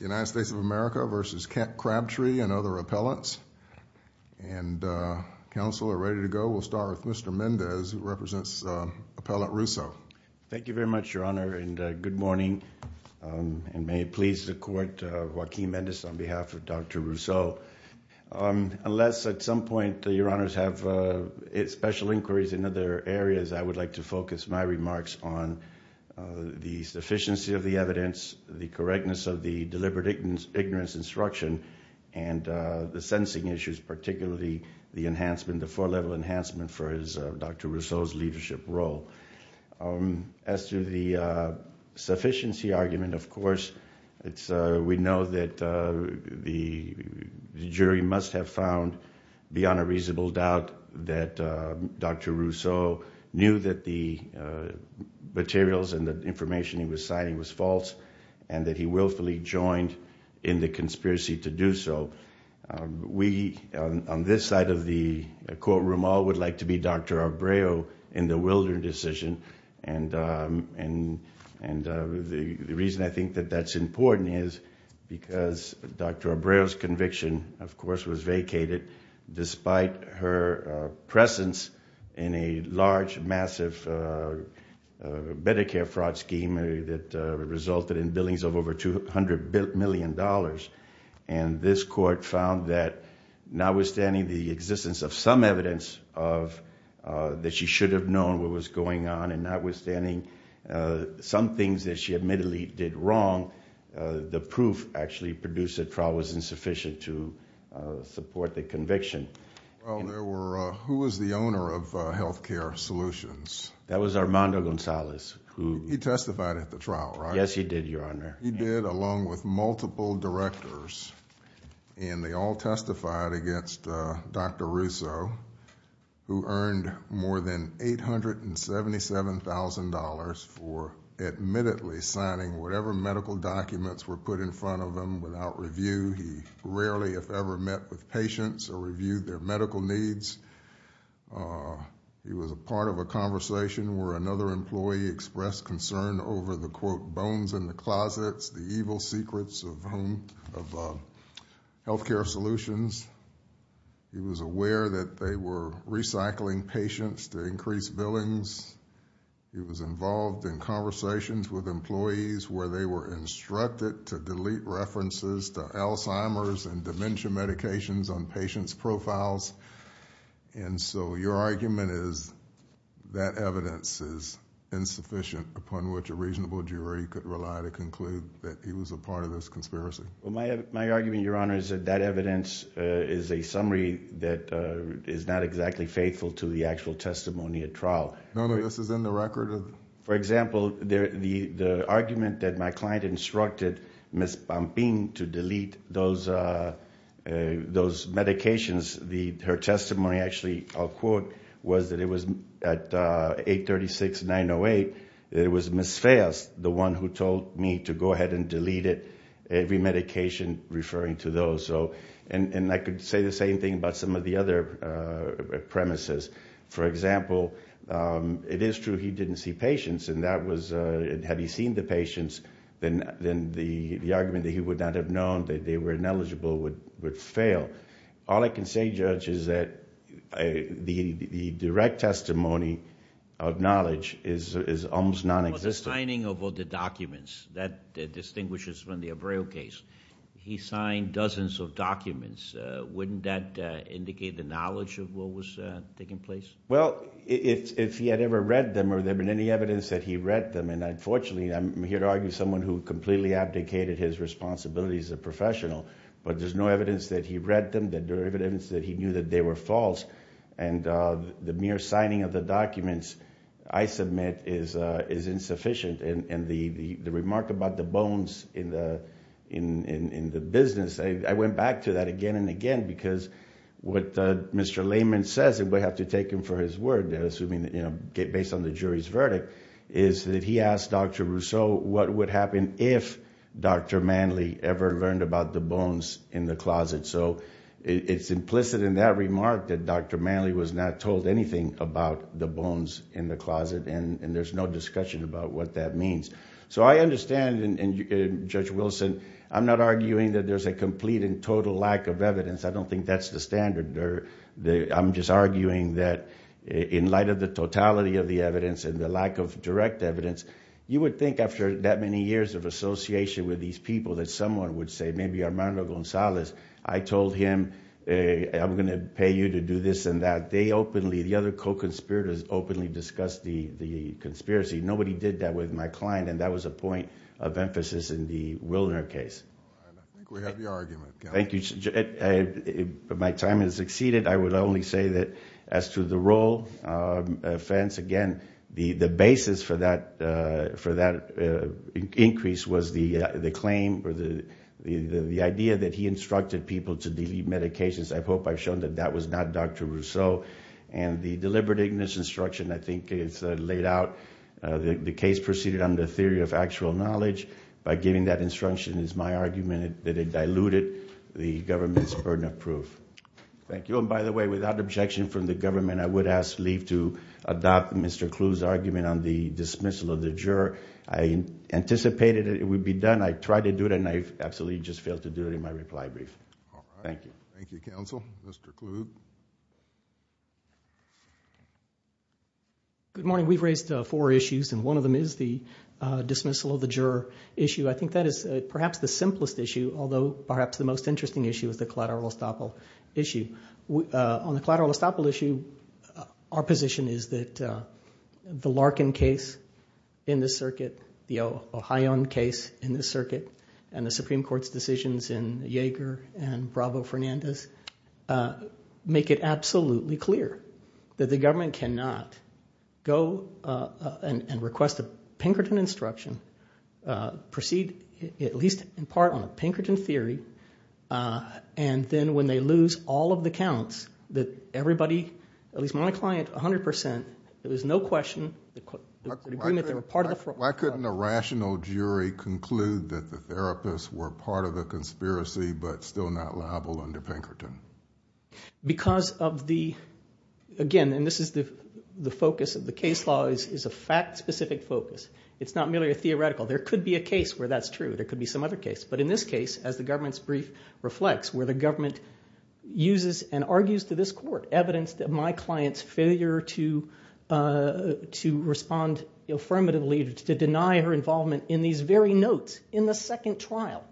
United States of America v. Crabtree and other appellants and counsel are ready to go. We'll start with Mr. Mendez who represents Appellant Russo. Thank you very much your honor and good morning and may it please the court Joaquin Mendez on behalf of Dr. Russo. Unless at some point your honors have special inquiries in other areas I would like to focus my remarks on the correctness of the deliberate ignorance instruction and the sentencing issues particularly the enhancement the four-level enhancement for Dr. Russo's leadership role. As to the sufficiency argument of course we know that the jury must have found beyond a reasonable doubt that Dr. was false and that he willfully joined in the conspiracy to do so. We on this side of the courtroom all would like to be Dr. Abreu in the Wilder decision and and and the reason I think that that's important is because Dr. Abreu's conviction of course was vacated despite her presence in a large massive Medicare fraud scheme that resulted in billings of over 200 billion dollars and this court found that notwithstanding the existence of some evidence of that she should have known what was going on and notwithstanding some things that she admittedly did wrong the proof actually produced at trial was insufficient to support the conviction. Who was the owner of health care solutions? That was Armando Gonzalez. He testified at the trial right? Yes he did your honor. He did along with multiple directors and they all testified against Dr. Russo who earned more than eight hundred and seventy seven thousand dollars for admittedly signing whatever medical documents were put in front of them without review. He rarely if ever met with patients or reviewed their medical needs. He was a part of a conversation where another employee expressed concern over the quote bones in the closets the evil secrets of home of health care solutions. He was aware that they were recycling patients to increase billings. He was involved in conversations with employees where they were instructed to delete references to medications on patients profiles and so your argument is that evidence is insufficient upon which a reasonable jury could rely to conclude that he was a part of this conspiracy. My argument your honor is that evidence is a summary that is not exactly faithful to the actual testimony at trial. None of this is in the record? For example the argument that my client instructed Ms. Pampin to delete those medications the her testimony actually I'll quote was that it was at 836 908 it was Ms. Feas the one who told me to go ahead and delete it every medication referring to those so and and I could say the same thing about some of the other premises. For example it is true he would not have known that they were ineligible would fail. All I can say judge is that the direct testimony of knowledge is almost non-existent. The signing of all the documents that distinguishes from the Abreu case he signed dozens of documents wouldn't that indicate the knowledge of what was taking place? Well if he had ever read them or there been any evidence that he read them and unfortunately I'm here to argue someone who completely abdicated his responsibilities as a professional but there's no evidence that he read them that there evidence that he knew that they were false and the mere signing of the documents I submit is is insufficient and the the remark about the bones in the in in the business I went back to that again and again because what Mr. Lehman says it would have to take him for his word assuming that you know based on the jury's Dr. Rousseau what would happen if Dr. Manley ever learned about the bones in the closet so it's implicit in that remark that Dr. Manley was not told anything about the bones in the closet and and there's no discussion about what that means. So I understand and Judge Wilson I'm not arguing that there's a complete and total lack of evidence I don't think that's the standard or the I'm just you would think after that many years of association with these people that someone would say maybe Armando Gonzalez I told him I'm gonna pay you to do this and that they openly the other co-conspirators openly discussed the the conspiracy nobody did that with my client and that was a point of emphasis in the Wilner case. Thank you my time has exceeded I would only say that as to the role offense again the the basis for that for that increase was the the claim or the the the idea that he instructed people to delete medications I hope I've shown that that was not Dr. Rousseau and the deliberating this instruction I think it's laid out the case proceeded on the theory of actual knowledge by giving that instruction is my argument that it diluted the government's burden of proof. Thank you and by the way without objection from the government I would ask leave to adopt Mr. Kluge's argument on the dismissal of the juror I anticipated it would be done I tried to do it and I've absolutely just failed to do it in my reply brief. Thank you. Thank you counsel. Mr. Kluge. Good morning we've raised four issues and one of them is the dismissal of the juror issue I think that is perhaps the simplest issue although perhaps the most interesting issue is the collateral estoppel issue on the collateral estoppel issue our position is that the Larkin case in this circuit the Ohioan case in this circuit and the Supreme Court's decisions in Yeager and Bravo Fernandez make it absolutely clear that the government cannot go and request a Pinkerton instruction proceed at least in part on a Pinkerton theory and then when they lose all of the counts that everybody at least my client 100% there was no question. Why couldn't a rational jury conclude that the therapists were part of the conspiracy but still not liable under Pinkerton? Because of the again and this is the focus of the case law is a fact-specific focus it's not merely a theoretical there could be a case where that's true there could be some other case but in this case as the government's brief reflects where the government uses and argues to this court evidence that my clients failure to to respond affirmatively to deny her involvement in these very notes in the second trial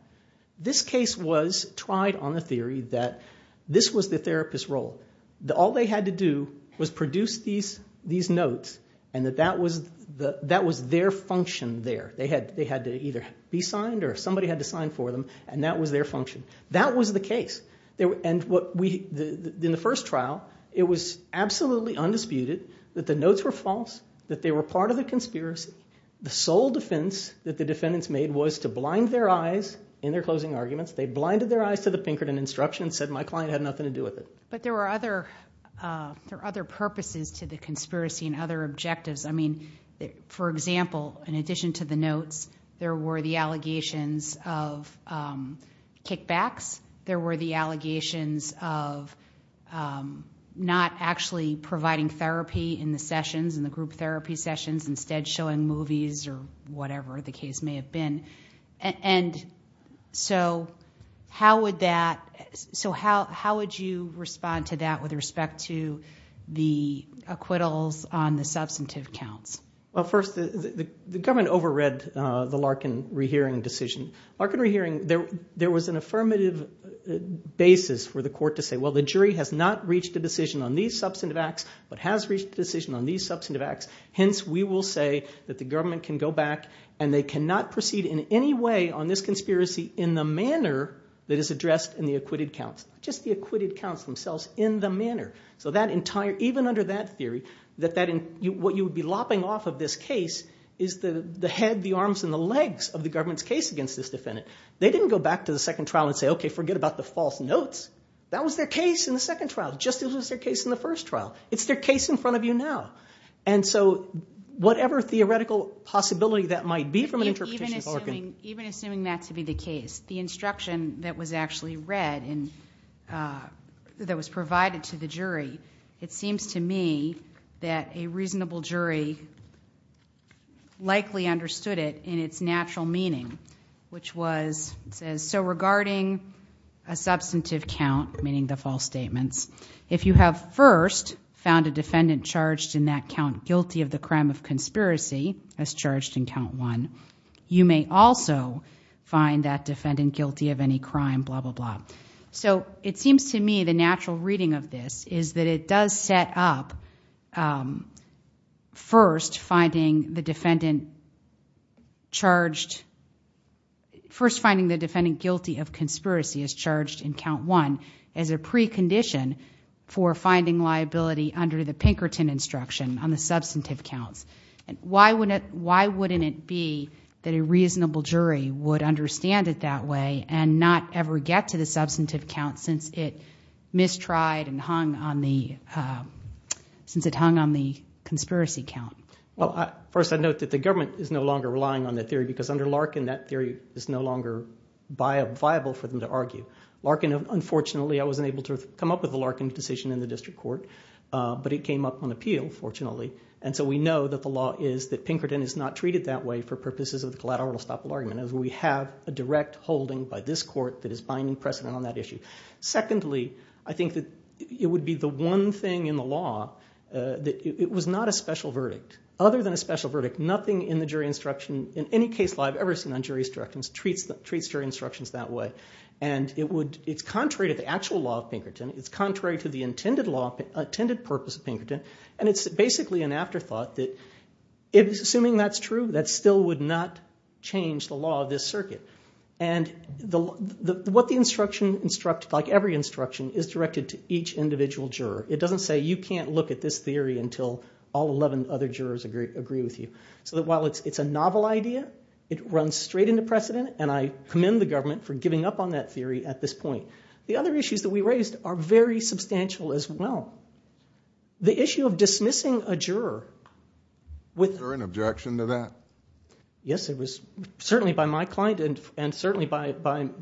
this case was tried on the theory that this was the therapist role that all they had to do was produce these these notes and that that was the that was their function there they had they had to either be signed or somebody had to sign for them and that was their function that was the case there and what we in the first trial it was absolutely undisputed that the notes were false that they were part of the conspiracy the sole defense that the defendants made was to blind their eyes in their closing arguments they blinded their eyes to the Pinkerton instruction said my client had nothing to do with it but there were other there other purposes to the conspiracy and other objectives I mean for example in addition to the notes there were the sessions and the group therapy sessions instead showing movies or whatever the case may have been and so how would that so how how would you respond to that with respect to the acquittals on the substantive counts well first the government over read the Larkin rehearing decision are canary hearing there there was an affirmative basis for the court to say well the jury has not reached a decision on these substantive acts but has reached a decision on these substantive acts hence we will say that the government can go back and they cannot proceed in any way on this conspiracy in the manner that is addressed in the acquitted counts just the acquitted counts themselves in the manner so that entire even under that theory that that in you what you would be lopping off of this case is the the head the arms and the legs of the government's case against this defendant they didn't go back to the second trial and say okay forget about the false notes that was their case in the second trial just as was their case in the first trial it's their case in front of you now and so whatever theoretical possibility that might be from an interpretation even assuming that to be the case the instruction that was actually read and that was provided to the jury it seems to me that a reasonable jury likely understood it in its natural meaning which was so regarding a substantive count meaning the false statements if you have first found a defendant charged in that count guilty of the crime of conspiracy as charged in count one you may also find that defendant guilty of any crime blah blah blah so it seems to me the natural reading of this is that it does set up first finding the defendant charged first finding the defendant guilty of conspiracy as charged in count one as a precondition for finding liability under the Pinkerton instruction on the substantive counts and why wouldn't why wouldn't it be that a reasonable jury would understand it that way and not ever get to the substantive count since it mistried and hung on the since it hung on the conspiracy count well I first I note that the government is no longer relying on that theory because under Larkin that theory is no longer viable for them to argue Larkin unfortunately I wasn't able to come up with the Larkin decision in the district court but it came up on appeal fortunately and so we know that the law is that Pinkerton is not treated that way for purposes of the collateral stoppable argument as we have a direct holding by this court that is binding precedent on that issue secondly I think that it would be the one thing in the law that it was not a special verdict other than a special verdict nothing in the jury instruction in any case law I've ever seen on jury instructions treats that treats jury instructions that way and it would it's contrary to the actual law of Pinkerton it's contrary to the intended law attended purpose of Pinkerton and it's basically an afterthought that it was assuming that's true that still would not change the law of this circuit and the what the instruction instruct like every instruction is directed to each individual juror it doesn't say you can't look at this theory until all 11 other jurors agree agree with you so that while it's it's a novel idea it runs straight into precedent and I commend the government for giving up on that theory at this point the other issues that we raised are very substantial as well the issue of dismissing a juror with an objection to that yes it was certainly by my client and and certainly by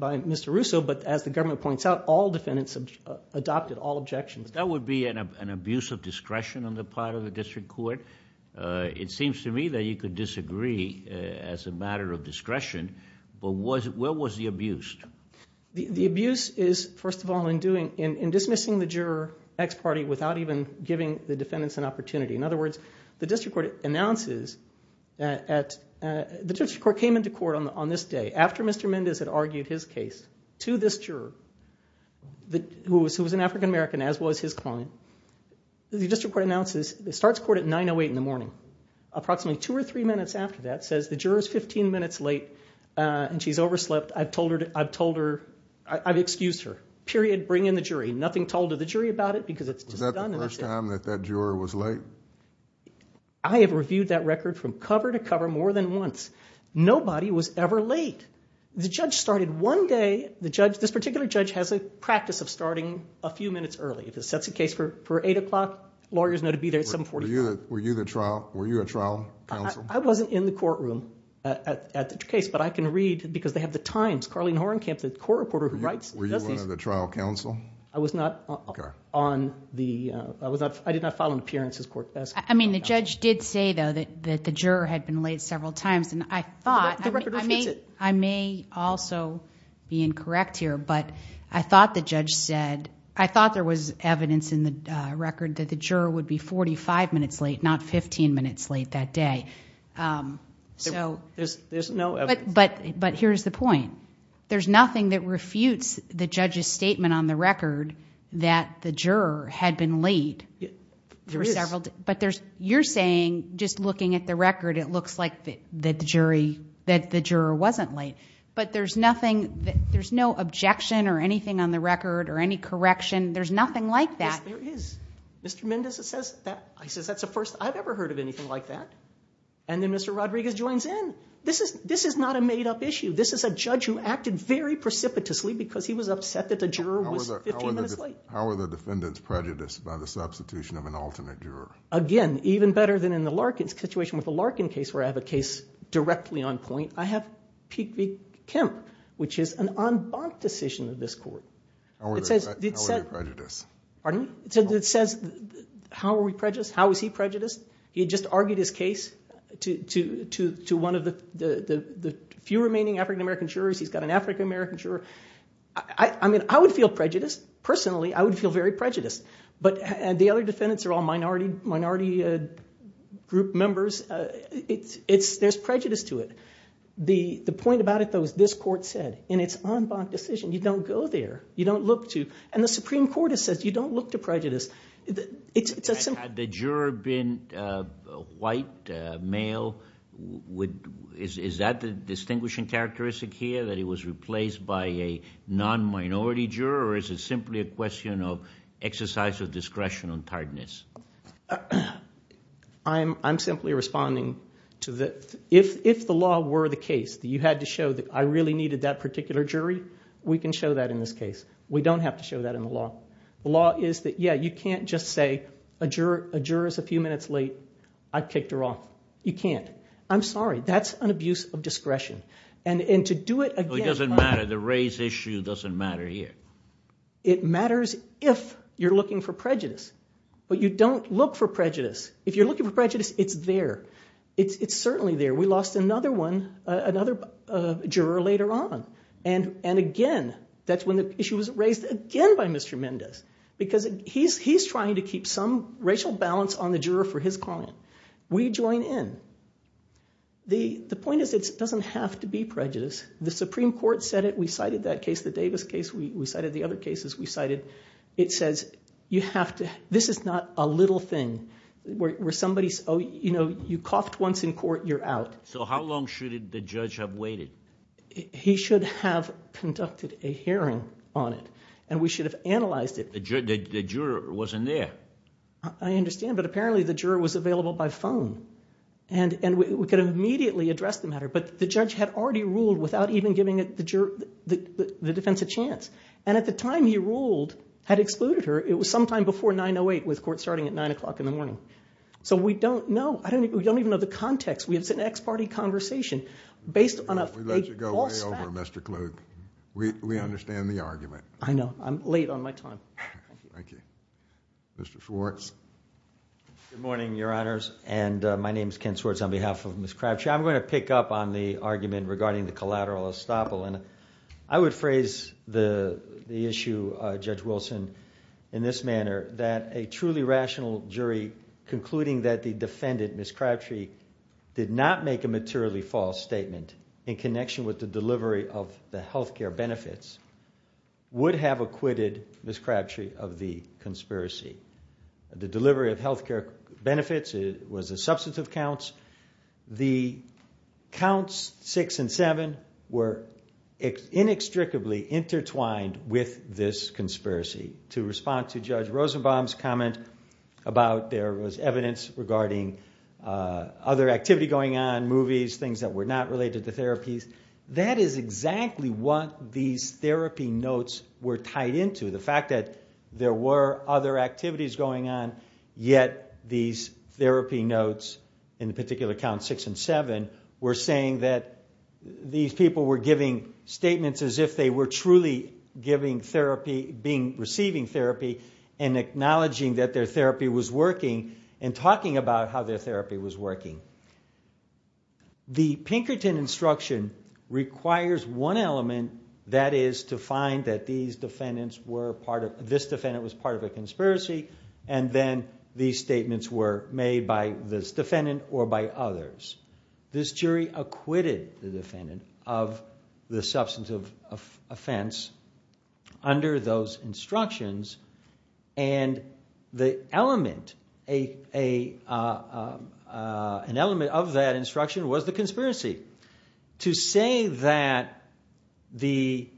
by Mr. Russo but as the government points out all defendants have adopted all objections that would be an abuse of discretion on the part of the district court it seems to me that you could disagree as a matter of discretion but was it well was the abused the abuse is first of all in doing in dismissing the juror ex parte without even giving the defendants an opportunity in other words the court announces that at the district court came into court on this day after mr. Mendez had argued his case to this juror that who was who was an african-american as was his client the district court announces it starts court at 908 in the morning approximately two or three minutes after that says the jurors 15 minutes late and she's overslept I've told her I've told her I've excused her period bring in the jury nothing told to the jury about it because it's the first time that that juror was late I have reviewed that record from cover to cover more than once nobody was ever late the judge started one day the judge this particular judge has a practice of starting a few minutes early if it sets a case for eight o'clock lawyers know to be there some for you were you the trial were you a trial I wasn't in the courtroom at the case but I can read because they have the I mean the judge did say though that the juror had been late several times and I thought I may also be incorrect here but I thought the judge said I thought there was evidence in the record that the juror would be 45 minutes late not 15 minutes late that day so there's no but but here's the point there's nothing that refutes the judge's statement on the record that the juror had been late but there's you're saying just looking at the record it looks like that the jury that the juror wasn't late but there's nothing there's no objection or anything on the record or any correction there's nothing like that there is mr. Mendez it says that I says that's the first I've ever heard of anything like that and then mr. Rodriguez joins in this is this is not a made-up issue this is a judge who acted very precipitously because he was upset that the juror was how are the defendants prejudiced by the substitution of an alternate juror again even better than in the Larkin's situation with the Larkin case where I have a case directly on point I have peak week Kemp which is an unbunked decision of this court it says prejudice pardon it says how are we prejudiced how is he prejudiced he had just argued his case to to to one of the the few remaining African-American jurors he's got an African-American sure I mean I would feel prejudiced personally I would feel very prejudiced but and the other defendants are all minority minority group members it's it's there's prejudice to it the the point about it though is this court said in its unbunked decision you don't go there you don't look to and the Supreme Court it says you don't look to prejudice it's the juror been white male would is that the distinguishing characteristic here that it was replaced by a non-minority juror is it simply a question of exercise of discretion on tardiness I'm I'm simply responding to that if if the law were the case that you had to show that I really needed that particular jury we can show that in this case we don't have to show that in the law the law is that yeah you can't just say a juror a jurors a few minutes late I've kicked her off you can't I'm sorry that's an abuse of discretion and and to do it it doesn't matter the race issue doesn't matter here it matters if you're looking for prejudice but you don't look for prejudice if you're looking for prejudice it's there it's it's certainly there we lost another one another juror later on and and again that's when the issue was raised again by mr. Mendez because he's he's trying to keep some racial balance on the juror his client we join in the the point is it doesn't have to be prejudice the Supreme Court said it we cited that case the Davis case we cited the other cases we cited it says you have to this is not a little thing where somebody's oh you know you coughed once in court you're out so how long should the judge have waited he should have conducted a hearing on it and we should have phone and and we could have immediately addressed the matter but the judge had already ruled without even giving it the juror the defense a chance and at the time he ruled had excluded her it was sometime before 908 with court starting at nine o'clock in the morning so we don't know I don't we don't even know the context we have an ex-party conversation based on a we understand the argument I know I'm late on my time thank you Mr. Schwartz good morning your honors and my name is Ken Swartz on behalf of Ms. Crabtree I'm going to pick up on the argument regarding the collateral estoppel and I would phrase the the issue uh Judge Wilson in this manner that a truly rational jury concluding that the defendant Ms. Crabtree did not make a materially false statement in acquitted Ms. Crabtree of the conspiracy the delivery of health care benefits it was a substantive counts the counts six and seven were inextricably intertwined with this conspiracy to respond to Judge Rosenbaum's comment about there was evidence regarding uh other activity going on movies things that were not related to therapies that is exactly what these therapy notes were tied into the fact that there were other activities going on yet these therapy notes in the particular count six and seven were saying that these people were giving statements as if they were truly giving therapy being receiving therapy and acknowledging that their therapy was working and talking about how their therapy was working the Pinkerton instruction requires one element that is to find that these defendants were part of this defendant was part of a conspiracy and then these statements were made by this defendant or by others this jury acquitted the defendant of the substantive offense under those instructions and the element a a uh uh an element of that instruction was the conspiracy to say that the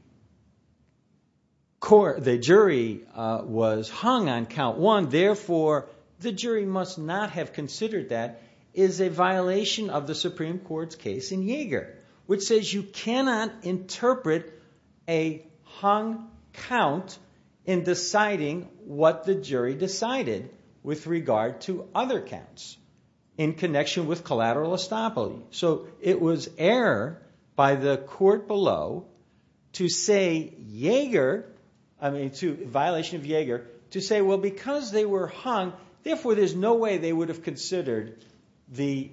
court the jury uh was hung on count one therefore the jury must not have considered that is a violation of the supreme court's case in Yeager which says you cannot interpret a hung count in deciding what the jury decided with regard to other counts in connection with collateral estoppel so it was error by the court below to say Yeager I mean to violation of Yeager to say well because they were hung therefore there's no way they would have considered the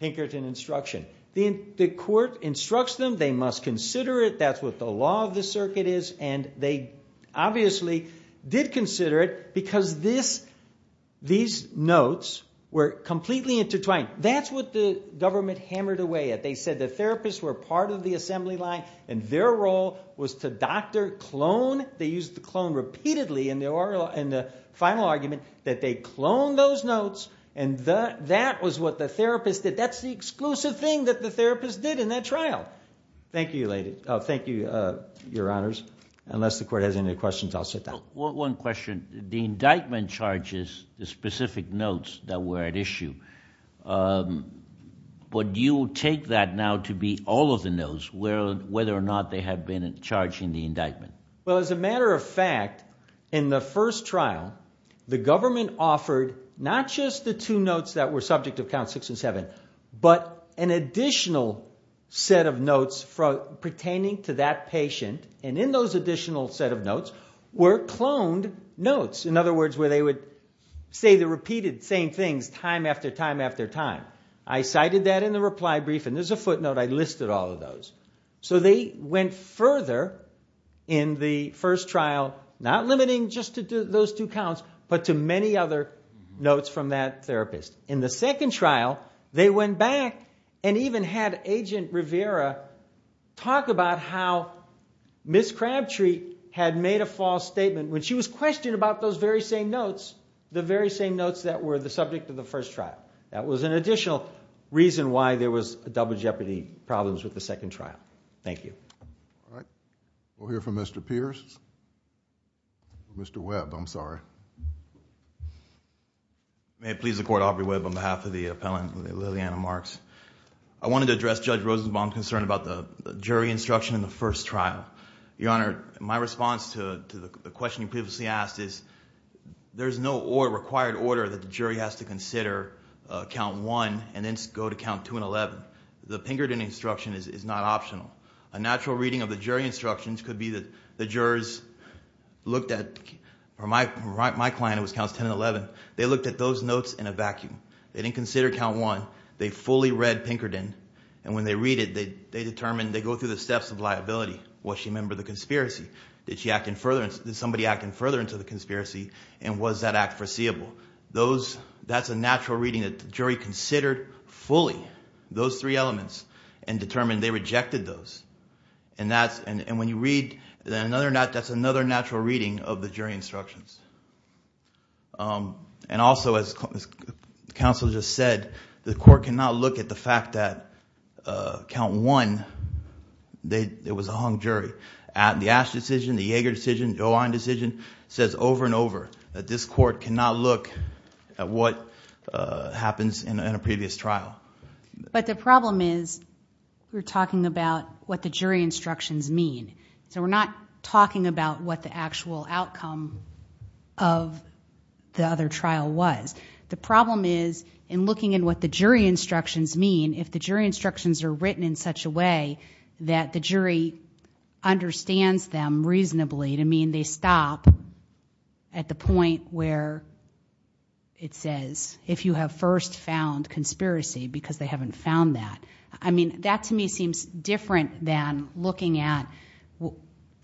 Pinkerton instruction the the court instructs them they must consider it that's what the law of the circuit is and they obviously did consider it because this these notes were completely intertwined that's what the government hammered away at they said the therapists were part of the assembly line and their role was to doctor clone they used the clone repeatedly in the oral and the final argument that they cloned those notes and the that was what the therapist did that's the exclusive thing that the therapist did in that trial thank you lady oh thank you uh your honors unless the court has any questions i'll sit down one question the indictment charges the specific notes that were at issue um but you take that now to be all of the notes where whether or not they have been charging the indictment well as a matter of fact in the first trial the government offered not just the two notes that were subject of count six and seven but an additional set of notes from pertaining to that patient and in those additional set of notes were cloned notes in other words where they would say the repeated same things time after time after time i cited that in the reply brief and there's a footnote i listed all of those so they went further in the first trial not limiting just those two counts but to many other notes from that therapist in the second trial they went back and even had agent rivera talk about how miss crabtree had made a false statement when she was questioned about those very same notes the very same notes that were the subject of the first trial that was an additional reason why there was a double jeopardy problems with the i'm sorry may it please the court off your web on behalf of the appellant lilliana marks i wanted to address judge rosenbaum concern about the jury instruction in the first trial your honor my response to to the question you previously asked is there's no or required order that the jury has to consider uh count one and then go to count two and eleven the pinkerton instruction is not optional a natural reading of the jury instructions could be that the jurors looked at or my right my client was counts 10 and 11 they looked at those notes in a vacuum they didn't consider count one they fully read pinkerton and when they read it they they determined they go through the steps of liability what she remembered the conspiracy did she act in furtherance did somebody act in furtherance of the conspiracy and was that act foreseeable those that's a natural reading that the jury considered fully those three elements and determined they rejected those and that's and when you read then another not that's another natural reading of the jury instructions um and also as counsel just said the court cannot look at the fact that uh count one they it was a hung jury at the ash decision the yeager decision johan decision says over and over that this court cannot look at what uh happens in a previous trial but the problem is we're not talking about what the jury instructions mean so we're not talking about what the actual outcome of the other trial was the problem is in looking in what the jury instructions mean if the jury instructions are written in such a way that the jury understands them reasonably to mean they stop at the point where it says if you have first found conspiracy because they haven't found that i mean that to me seems different than looking at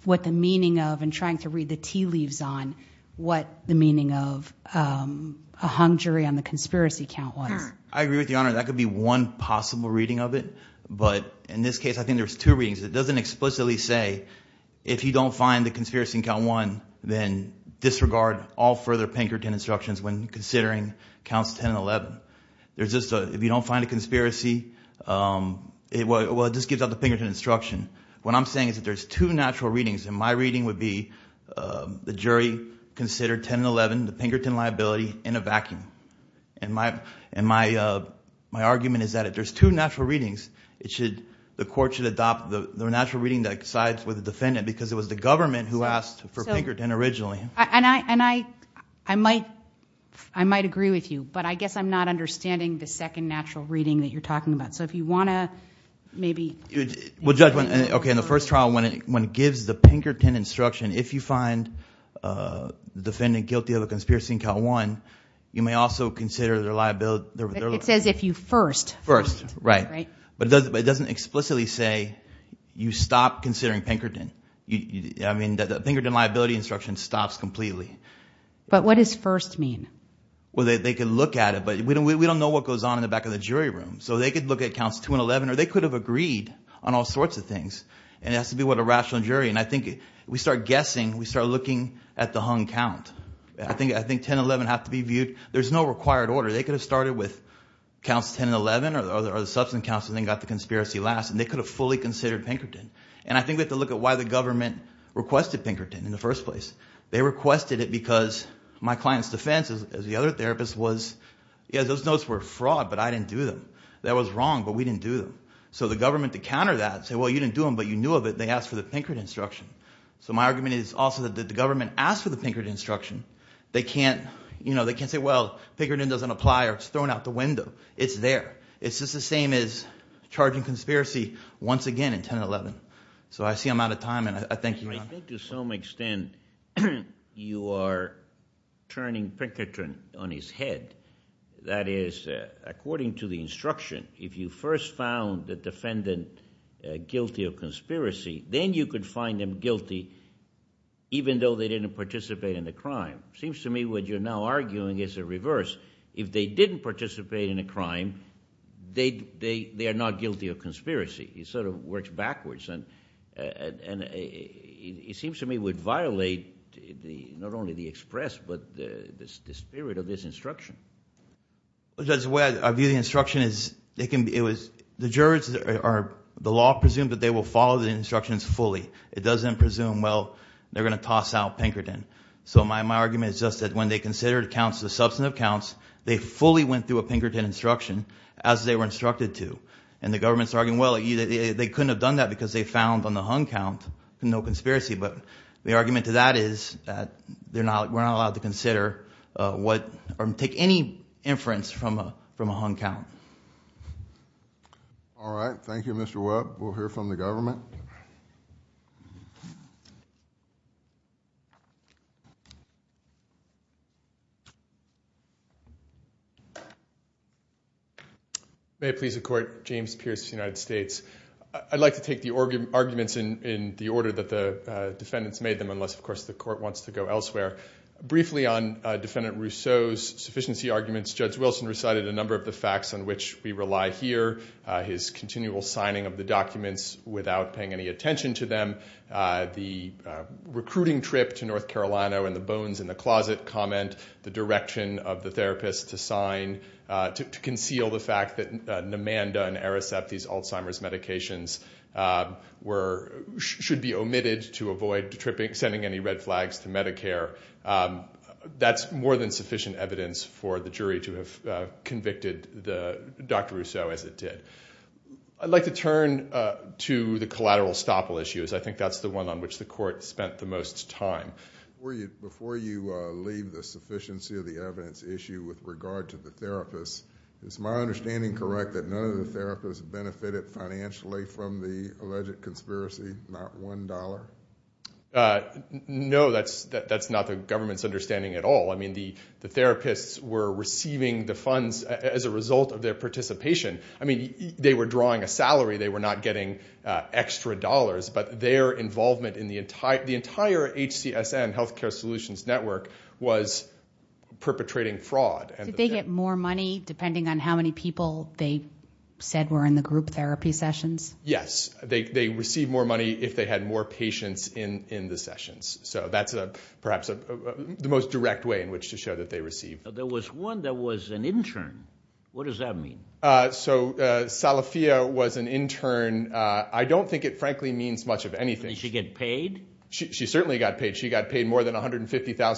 what the meaning of and trying to read the tea leaves on what the meaning of um a hung jury on the conspiracy count was i agree with the honor that could be one possible reading of it but in this case i think there's two readings it doesn't explicitly say if you don't find the conspiracy count one then disregard all further pinkerton instructions when considering counts 10 and 11 there's just a if you don't find a it well it just gives out the pinkerton instruction what i'm saying is that there's two natural readings and my reading would be the jury considered 10 and 11 the pinkerton liability in a vacuum and my and my uh my argument is that if there's two natural readings it should the court should adopt the natural reading that sides with the defendant because it was the government who asked for pinkerton originally and i and i i might i might agree with you but i guess i'm not understanding the second natural reading that you're talking about so if you want to maybe well judgment okay in the first trial when it when it gives the pinkerton instruction if you find uh the defendant guilty of a conspiracy in count one you may also consider their liability it says if you first first right right but it doesn't explicitly say you stop considering pinkerton you i mean that the pinkerton liability instruction stops completely but what does first mean well they could look at it but we don't we don't know what goes on in the back of the jury room so they could look at counts 2 and 11 or they could have agreed on all sorts of things and it has to be what a rational jury and i think we start guessing we start looking at the hung count i think i think 10 11 have to be viewed there's no required order they could have started with counts 10 and 11 or the substance counsel then got the conspiracy last and they could have fully considered pinkerton and i think we have to look at why the government requested pinkerton in the first place they requested it because my client's defense as the other therapist was yeah those notes were fraud but i didn't do them that was wrong but we didn't do them so the government to counter that say well you didn't do them but you knew of it they asked for the pinkerton instruction so my argument is also that the government asked for the pinkerton instruction they can't you know they can't say well pinkerton doesn't apply or it's thrown out the window it's there it's just the same as charging conspiracy once again in 10 and 11 so i see i'm out of time and i thank you i think to some extent you are turning pinkerton on his head that is according to the instruction if you first found the defendant guilty of conspiracy then you could find them guilty even though they didn't participate in the crime seems to me what you're now arguing is a reverse if they didn't participate in a crime they they they are not and and it seems to me would violate the not only the express but the the spirit of this instruction because the way i view the instruction is they can it was the jurors are the law presumed that they will follow the instructions fully it doesn't presume well they're going to toss out pinkerton so my my argument is just that when they considered counts the substantive counts they fully went through a pinkerton instruction as they were instructed to and the government's they couldn't have done that because they found on the hung count no conspiracy but the argument to that is that they're not we're not allowed to consider what or take any inference from a from a hung count all right thank you mr webb we'll hear from the government may please accord james pierce united states i'd like to take the arguments in in the order that the defendants made them unless of course the court wants to go elsewhere briefly on defendant rousseau's sufficiency arguments judge wilson recited a continual signing of the documents without paying any attention to them uh the recruiting trip to north carolina and the bones in the closet comment the direction of the therapist to sign uh to conceal the fact that namanda and ericep these alzheimer's medications were should be omitted to avoid tripping sending any red flags to medicare that's more than sufficient evidence for the jury to have convicted the dr rousseau as it did i'd like to turn uh to the collateral stopple issues i think that's the one on which the court spent the most time before you before you uh leave the sufficiency of the evidence issue with regard to the therapist is my understanding correct that none of the therapists benefited financially from the alleged conspiracy not one uh no that's that that's not the government's understanding at all i mean the the therapists were receiving the funds as a result of their participation i mean they were drawing a salary they were not getting uh extra dollars but their involvement in the entire the entire hcsn health care solutions network was perpetrating fraud and they get more money depending on how many people they said were in the group therapy sessions yes they they receive more money if they had more patients in in the sessions so that's a perhaps the most direct way in which to show that they received there was one that was an intern what does that mean uh so uh salafia was an intern uh i don't think it frankly means much of anything she get paid she certainly got paid she got paid more than 150 000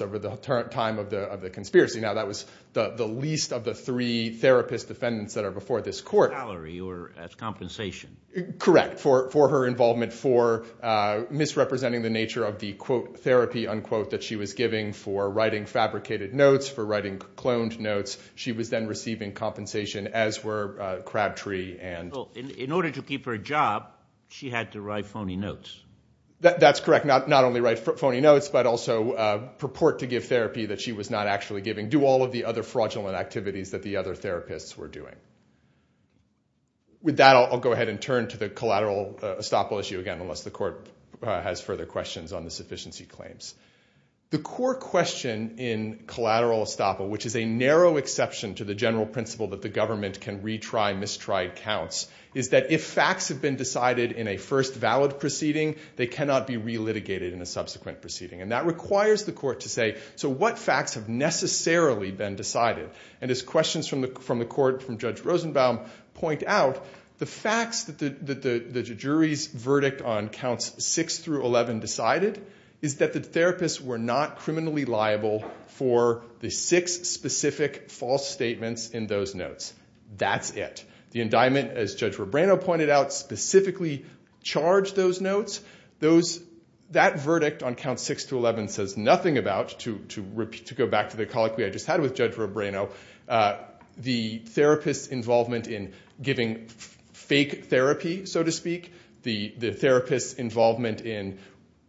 over the time of the of the conspiracy now that was the the least of the therapist defendants that are before this court salary or as compensation correct for for her involvement for uh misrepresenting the nature of the quote therapy unquote that she was giving for writing fabricated notes for writing cloned notes she was then receiving compensation as were uh crabtree and in order to keep her job she had to write phony notes that's correct not not only write phony notes but also uh purport to give therapy that she was not actually giving do all the other fraudulent activities that the other therapists were doing with that i'll go ahead and turn to the collateral estoppel issue again unless the court has further questions on the sufficiency claims the core question in collateral estoppel which is a narrow exception to the general principle that the government can retry mistried counts is that if facts have been decided in a first valid proceeding they cannot be re-litigated in a subsequent proceeding and that and as questions from the from the court from judge rosenbaum point out the facts that the the the jury's verdict on counts 6 through 11 decided is that the therapists were not criminally liable for the six specific false statements in those notes that's it the indictment as judge robrano pointed out specifically charged those notes those that verdict on count 6 to 11 says nothing about to repeat to go back to the colloquy i just had with judge robrano uh the therapist's involvement in giving fake therapy so to speak the the therapist's involvement in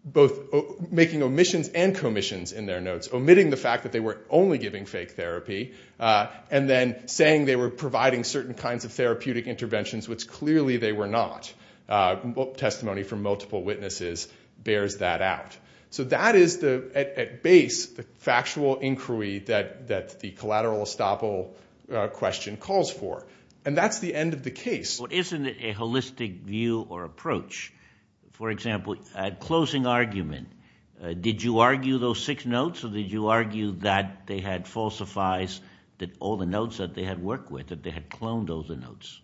both making omissions and commissions in their notes omitting the fact that they were only giving fake therapy uh and then saying they were providing certain kinds of therapeutic interventions which clearly they were not uh testimony from multiple witnesses bears that out so that is the at base the factual inquiry that that the collateral estoppel uh question calls for and that's the end of the case but isn't it a holistic view or approach for example at closing argument did you argue those six notes or did you argue that they had falsifies that all the notes that they worked with that they had cloned all the notes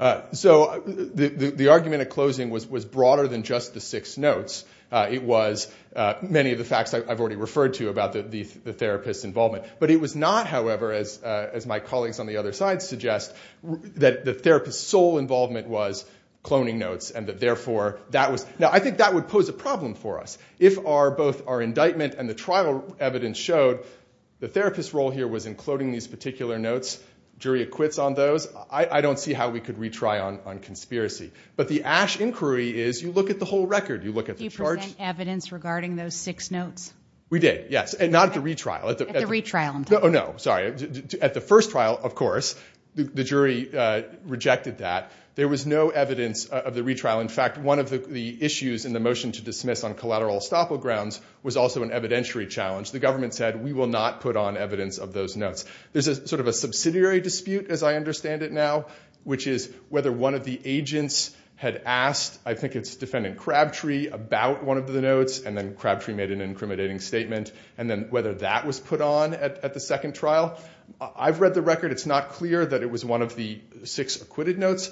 uh so the the argument at closing was was broader than just the six notes uh it was uh many of the facts i've already referred to about the the therapist's involvement but it was not however as uh as my colleagues on the other side suggest that the therapist's sole involvement was cloning notes and that therefore that was now i think that would pose a problem for us if our both our indictment and the trial evidence showed the jury acquits on those i i don't see how we could retry on on conspiracy but the ash inquiry is you look at the whole record you look at the charge evidence regarding those six notes we did yes and not the retrial at the retrial no no sorry at the first trial of course the jury uh rejected that there was no evidence of the retrial in fact one of the issues in the motion to dismiss on collateral estoppel grounds was also an evidentiary challenge the government said we will not put on of those notes there's a sort of a subsidiary dispute as i understand it now which is whether one of the agents had asked i think it's defendant crabtree about one of the notes and then crabtree made an incriminating statement and then whether that was put on at the second trial i've read the record it's not clear that it was one of the six acquitted notes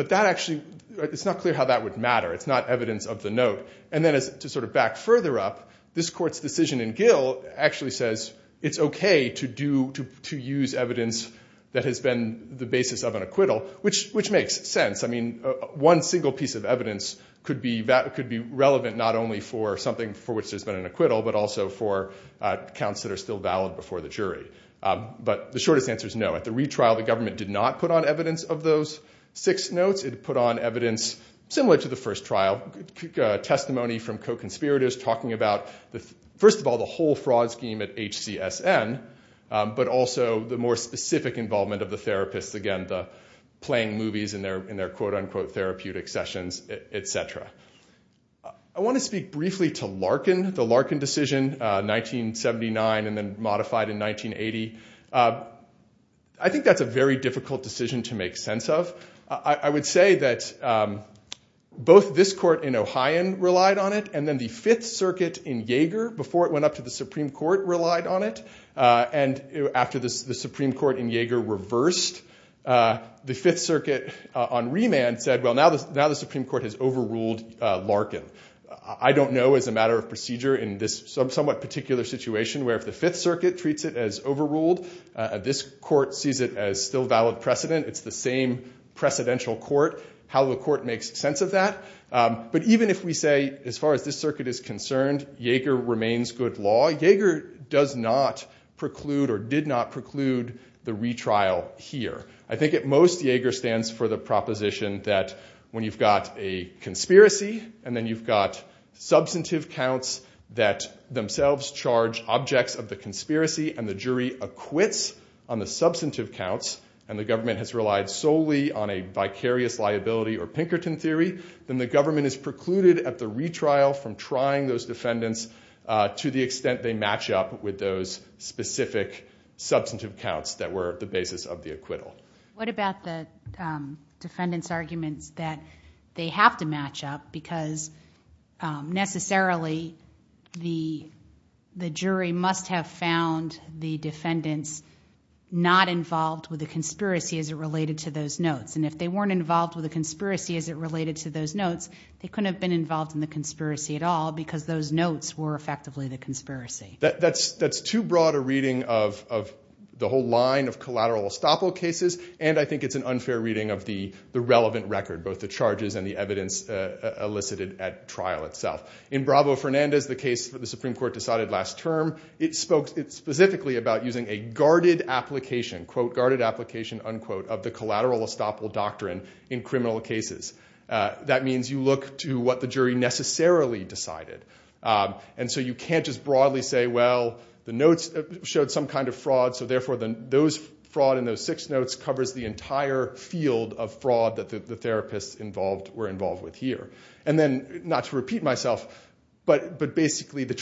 but that actually it's not clear how that would matter it's not evidence of the note and then as to sort of back further up this okay to do to to use evidence that has been the basis of an acquittal which which makes sense i mean one single piece of evidence could be that could be relevant not only for something for which there's been an acquittal but also for uh counts that are still valid before the jury um but the shortest answer is no at the retrial the government did not put on evidence of those six notes it put on evidence similar to the first trial testimony from co-conspirators talking about the first of the whole fraud scheme at hcsn but also the more specific involvement of the therapists again the playing movies in their in their quote-unquote therapeutic sessions etc i want to speak briefly to larkin the larkin decision uh 1979 and then modified in 1980 i think that's a very difficult decision to make sense of i i would say that um both this court in ohion relied on it and then the fifth circuit in jaeger before it went up to the supreme court relied on it uh and after this the supreme court in jaeger reversed uh the fifth circuit on remand said well now this now the supreme court has overruled uh larkin i don't know as a matter of procedure in this somewhat particular situation where if the fifth circuit treats it as overruled uh this court sees it as still valid precedent it's the same precedential court how the court makes sense of that um but even if we say as far as this circuit is concerned jaeger remains good law jaeger does not preclude or did not preclude the retrial here i think at most jaeger stands for the proposition that when you've got a conspiracy and then you've got substantive counts that themselves charge objects of the conspiracy and the jury acquits on the substantive counts and the government has relied solely on a vicarious liability or pinkerton theory then the government is precluded at the retrial from trying those defendants uh to the extent they match up with those specific substantive counts that were the basis of the acquittal what about the defendants arguments that they have to match up because necessarily the the jury must have found the defendants not involved with the conspiracy as it related to those notes and if they weren't involved with the conspiracy as it related to those notes they couldn't have been involved in the conspiracy at all because those notes were effectively the conspiracy that that's that's too broad a reading of of the whole line of collateral estoppel cases and i think it's an unfair reading of the the relevant record both the charges and the evidence uh elicited at trial itself in bravo fernandez the case for the supreme court decided last term it spoke it specifically about using a guarded application quote guarded application unquote of the collateral estoppel doctrine in criminal cases that means you look to what the jury necessarily decided and so you can't just broadly say well the notes showed some kind of fraud so therefore the those fraud in those six notes covers the entire field of fraud that the therapists involved were involved with here and then not to repeat myself but but basically the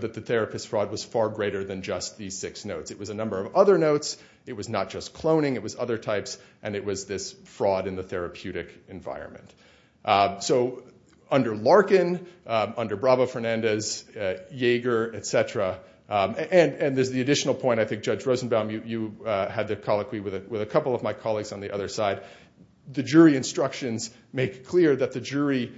that the therapist fraud was far greater than just these six notes it was a number of other notes it was not just cloning it was other types and it was this fraud in the therapeutic environment so under larkin under bravo fernandez uh yeager etc um and and there's the additional point i think judge rosenbaum you uh had the colloquy with a couple of my colleagues on the other side the jury instructions make clear that the jury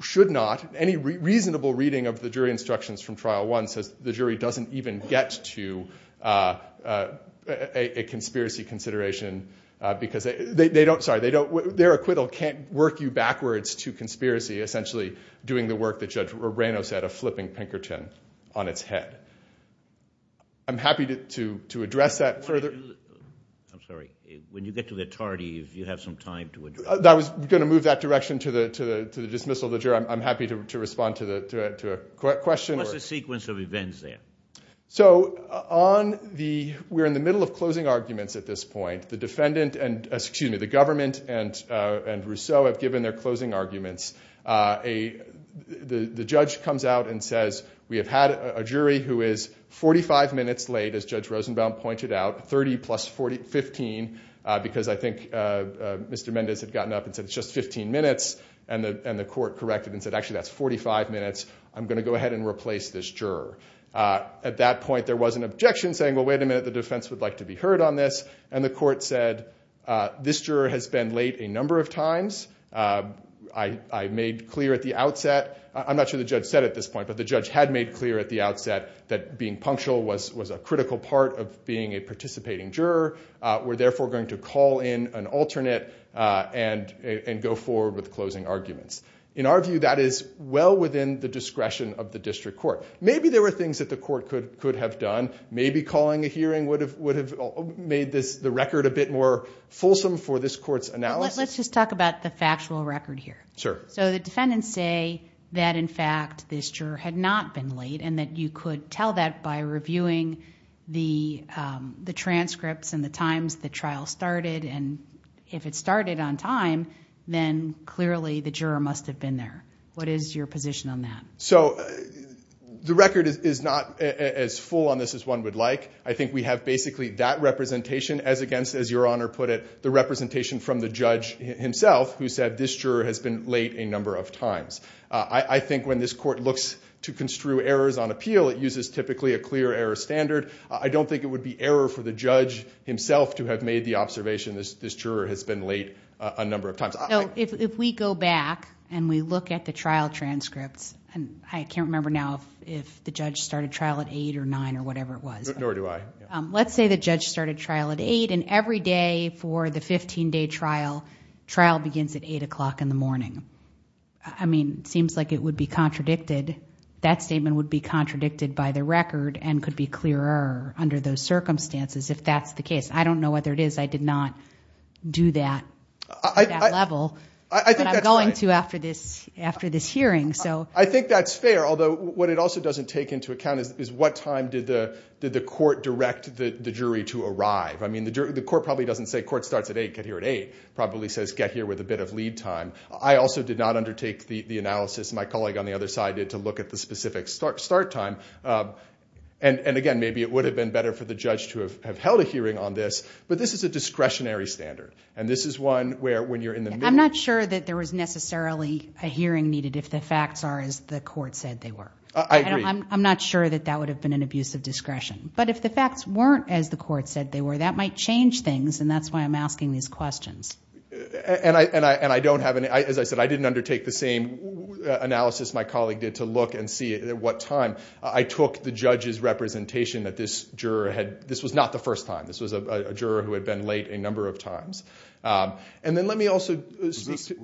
should not any reasonable reading of the jury instructions from trial one says the jury doesn't even get to uh uh a conspiracy consideration uh because they they don't sorry they don't their acquittal can't work you backwards to conspiracy essentially doing the work that judge reyno said a flipping pinkerton on its head i'm happy to to address that further i'm sorry when you get to the tardy if you have some time to address that was going to move that direction to the to the to the dismissal of the juror i'm happy to respond to the to a question what's the sequence of events there so on the we're in the middle of closing arguments at this point the defendant and excuse me the government and uh and rousseau have given their closing arguments uh a the the judge comes out and says we have had a jury who is 45 minutes late as judge rosenbaum pointed out 30 plus 40 15 uh because i think uh mr mendez had gotten up and i'm going to go ahead and replace this juror uh at that point there was an objection saying well wait a minute the defense would like to be heard on this and the court said uh this juror has been late a number of times uh i i made clear at the outset i'm not sure the judge said at this point but the judge had made clear at the outset that being punctual was was a critical part of being a participating juror uh we're therefore going to call in an alternate uh and and go forward with the discretion of the district court maybe there were things that the court could could have done maybe calling a hearing would have would have made this the record a bit more fulsome for this court's analysis let's just talk about the factual record here sure so the defendants say that in fact this juror had not been late and that you could tell that by reviewing the um the transcripts and the times the trial started and if it started on time then clearly the juror must have been there what is your position on that so the record is not as full on this as one would like i think we have basically that representation as against as your honor put it the representation from the judge himself who said this juror has been late a number of times i i think when this court looks to construe errors on appeal it uses typically a clear error standard i don't think it would be error for the judge himself to have made the no if we go back and we look at the trial transcripts and i can't remember now if the judge started trial at eight or nine or whatever it was nor do i um let's say the judge started trial at eight and every day for the 15 day trial trial begins at eight o'clock in the morning i mean it seems like it would be contradicted that statement would be contradicted by the record and could be clearer under those circumstances if that's the case i don't know whether it is i did not do that at that level i think i'm going to after this after this hearing so i think that's fair although what it also doesn't take into account is is what time did the did the court direct the jury to arrive i mean the jury the court probably doesn't say court starts at eight get here at eight probably says get here with a bit of lead time i also did not undertake the analysis my colleague on the other side did to look at the specific start start time um and and again maybe it would have been better for the judge to have held a hearing on this but this is a discretionary standard and this is one where when you're in the i'm not sure that there was necessarily a hearing needed if the facts are as the court said they were i agree i'm not sure that that would have been an abuse of discretion but if the facts weren't as the court said they were that might change things and that's why i'm asking these questions and i and i and i don't have any as i said i didn't undertake the same analysis my colleague did to look and see at what time i took the judge's representation that this juror had this was not the first time this was a juror who had been late a number of times um and then let me also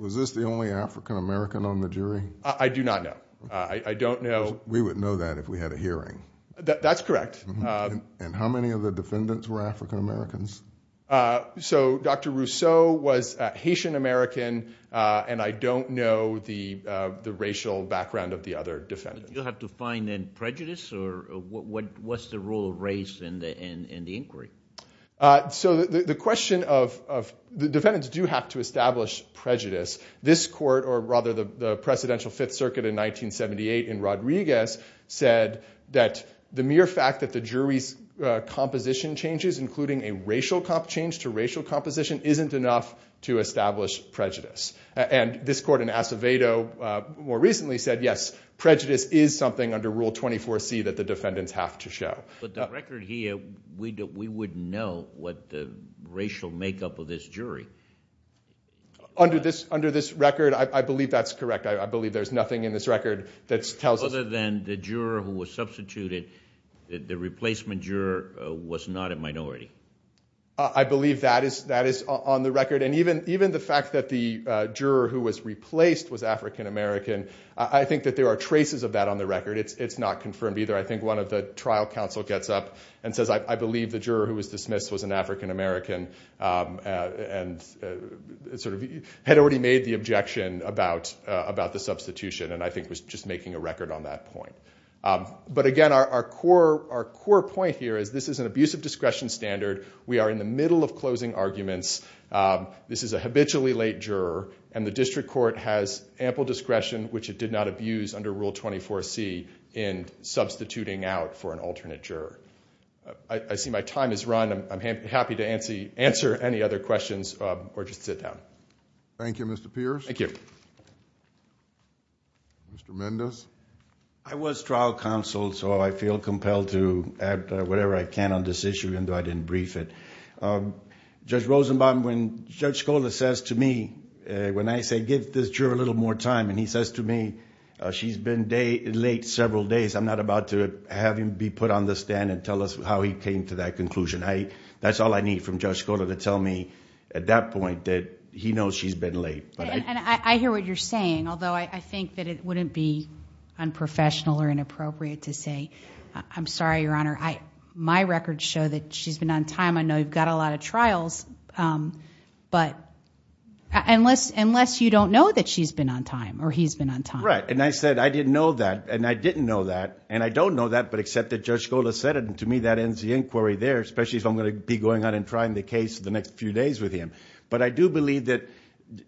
was this the only african-american on the jury i do not know i i don't know we would know that if we had a hearing that's correct and how many of the defendants were african-americans uh so dr rousseau was haitian-american uh and i don't know the uh the racial background of the other defendants you'll uh so the the question of of the defendants do have to establish prejudice this court or rather the the presidential fifth circuit in 1978 in rodriguez said that the mere fact that the jury's uh composition changes including a racial cop change to racial composition isn't enough to establish prejudice and this court in acevedo uh more recently said yes prejudice is something under rule 24c that the defendants have to show but the record here we do we wouldn't know what the racial makeup of this jury under this under this record i believe that's correct i believe there's nothing in this record that tells us other than the juror who was substituted the replacement juror was not a minority i believe that is that is on the record and even even the fact that the uh juror who was replaced was african-american i think that there are traces of that on the record it's it's not confirmed either i think one of the trial council gets up and says i believe the juror who was dismissed was an african-american um and sort of had already made the objection about uh about the substitution and i think was just making a record on that point um but again our core our core point here is this is an abusive discretion standard we are in the middle of closing arguments um this is a habitually late juror and the district court has ample discretion which it did not abuse under rule 24c in substituting out for an alternate juror i see my time is run i'm happy to answer any other questions or just sit down thank you mr pierce thank you mr mendez i was trial counsel so i feel compelled to add whatever i can on this issue even though i didn't brief it um judge rosenbaum when judge scola says to me when i give this juror a little more time and he says to me uh she's been day late several days i'm not about to have him be put on the stand and tell us how he came to that conclusion i that's all i need from judge scola to tell me at that point that he knows she's been late and i hear what you're saying although i think that it wouldn't be unprofessional or inappropriate to say i'm sorry your honor i my records show that she's been on time i know you've got a lot of trials um but unless unless you don't know that she's been on time or he's been on time right and i said i didn't know that and i didn't know that and i don't know that but except that judge scola said it and to me that ends the inquiry there especially if i'm going to be going out and trying the case the next few days with him but i do believe that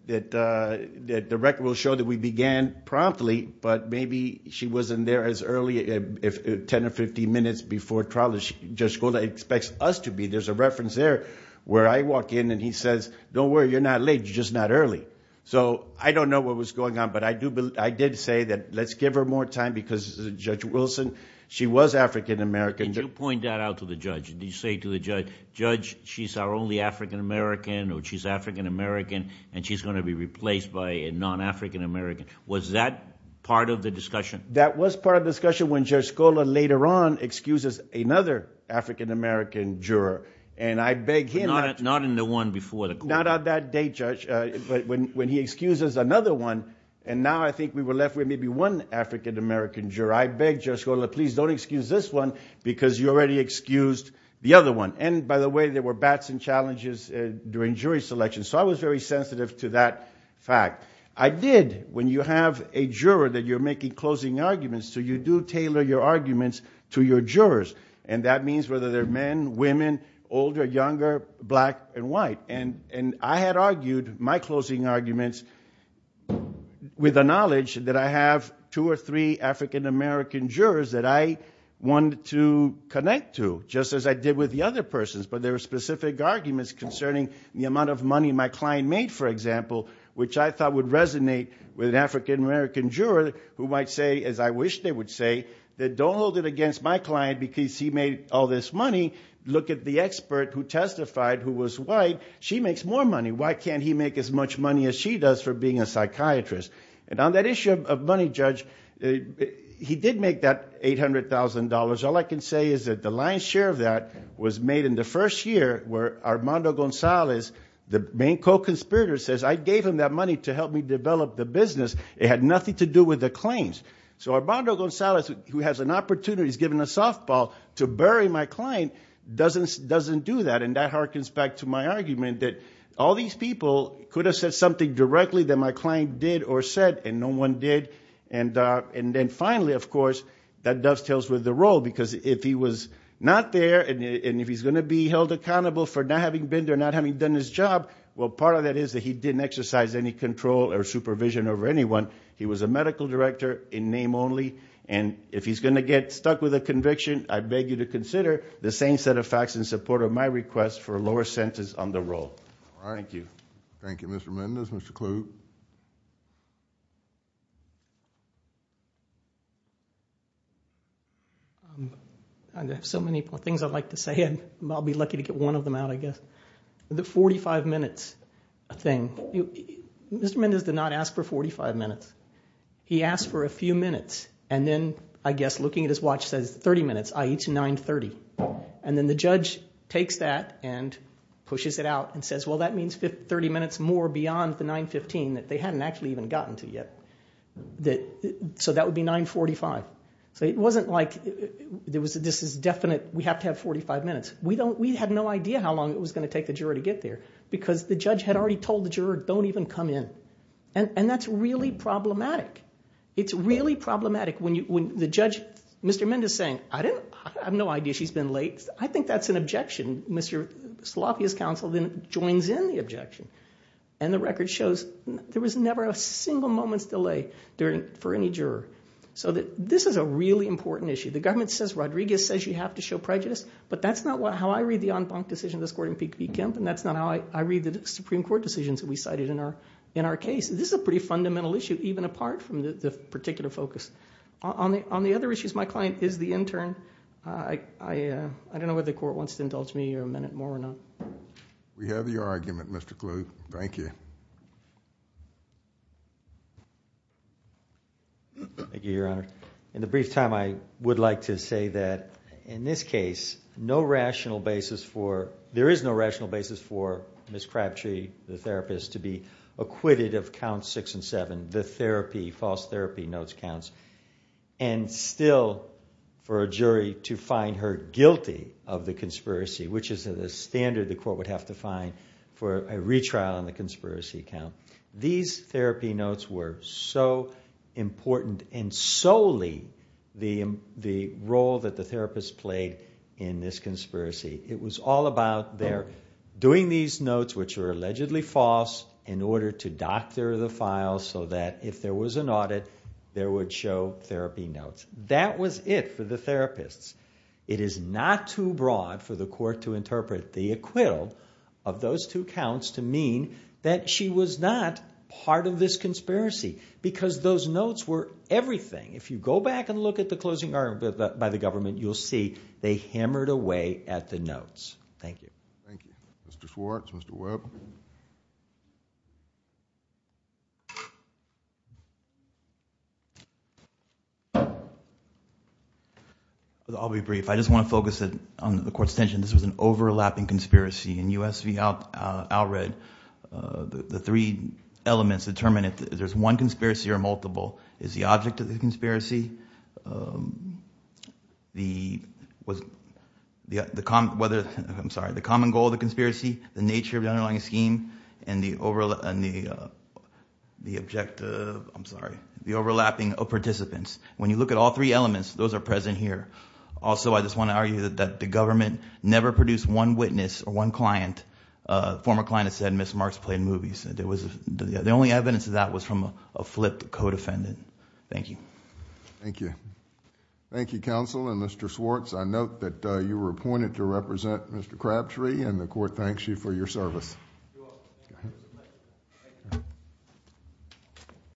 that uh that the record will show that we began promptly but maybe she wasn't there as early as 10 or 15 minutes before trial just go that expects us to be there's a reference there where i walk in and he says don't worry you're not late you're just not early so i don't know what was going on but i do i did say that let's give her more time because judge wilson she was african-american did you point that out to the judge did you say to the judge judge she's our only african-american or she's african-american and she's going to be replaced by a non-african-american was that part of the discussion that was part of the discussion later on excuses another african-american juror and i beg him not not in the one before the court not on that date judge uh but when when he excuses another one and now i think we were left with maybe one african-american juror i beg just go please don't excuse this one because you already excused the other one and by the way there were bats and challenges during jury selection so i was very sensitive to that fact i did when you have a juror that you're making closing arguments so you do tailor your arguments to your jurors and that means whether they're men women older younger black and white and and i had argued my closing arguments with the knowledge that i have two or three african-american jurors that i wanted to connect to just as i did with the other persons but there are specific arguments concerning the amount of money my client made for example which i thought would resonate with an african-american juror who might say as i wish they would say that don't hold it against my client because he made all this money look at the expert who testified who was white she makes more money why can't he make as much money as she does for being a psychiatrist and on that issue of money judge he did make that eight hundred thousand dollars all i can say is that the lion's share of that was made in the first year where armando gonzalez the main co-conspirator says i gave him that money to help me develop the business it had nothing to do with the claims so armando gonzalez who has an opportunity he's given a softball to bury my client doesn't doesn't do that and that hearkens back to my argument that all these people could have said something directly that my client did or said and no one did and uh and then finally of course that dovetails with the role because if he was not there and if he's going to be held accountable for not having been there not having done his job well part of that is that he didn't exercise any control or supervision over anyone he was a medical director in name only and if he's going to get stuck with a conviction i beg you to consider the same set of facts in support of my request for a lower sentence on the role all right thank you thank you mr mendez mr clube um i have so many things i'd like to say and i'll be lucky to get one of them out i guess the 45 minutes a thing mr mendez did not ask for 45 minutes he asked for a few minutes and then i guess looking at his watch says 30 minutes ie to 9 30 and then the judge takes that and pushes it out and says well that means 30 minutes more beyond the 9 15 that they hadn't actually even gotten to yet that so that would be 9 45 so it wasn't like there was this is definite we have to have 45 minutes we don't we had no idea how long it was going to take the juror to get there because the judge had already told the juror don't even come in and and that's really problematic it's really problematic when you when the judge mr mendez saying i didn't i have no idea she's been late i think that's an objection mr salafi's counsel then joins in the objection and the record shows there was never a single moment's delay during for any juror so that this is a really important issue the government says rodriguez says you have to show prejudice but that's not how i read the en banc decision this court in pkmp and that's not how i i read the supreme court decisions that we cited in our in our case this is a pretty fundamental issue even apart from the particular focus on the on the other issues my client is the intern i i uh i don't know whether the court wants to indulge me a minute more or not we have your argument mr clue thank you thank you your honor in the brief time i would like to say that in this case no rational basis for there is no rational basis for miss crabtree the therapist to be acquitted of count six and seven the therapy false therapy notes counts and still for a jury to find her guilty of the these therapy notes were so important and solely the the role that the therapist played in this conspiracy it was all about their doing these notes which are allegedly false in order to doctor the file so that if there was an audit there would show therapy notes that was it for the therapists it is not too broad for the court to interpret the acquittal of those two counts to that she was not part of this conspiracy because those notes were everything if you go back and look at the closing argument by the government you'll see they hammered away at the notes thank you thank you mr schwartz mr webb i'll be brief i just want to focus it on the court's attention this was an overlapping conspiracy in usv out uh outred uh the three elements determine if there's one conspiracy or multiple is the object of the conspiracy um the was the the com whether i'm sorry the common goal of the conspiracy the nature of the underlying scheme and the overall and the uh the objective i'm sorry the overlapping of participants when you look at all three elements those are present here also i just want to argue that the government never produced one witness or one client uh former client said miss marks played movies there was the only evidence of that was from a flipped co-defendant thank you thank you thank you counsel and mr swartz i note that you were appointed to represent mr crabtree and the court thanks you for your service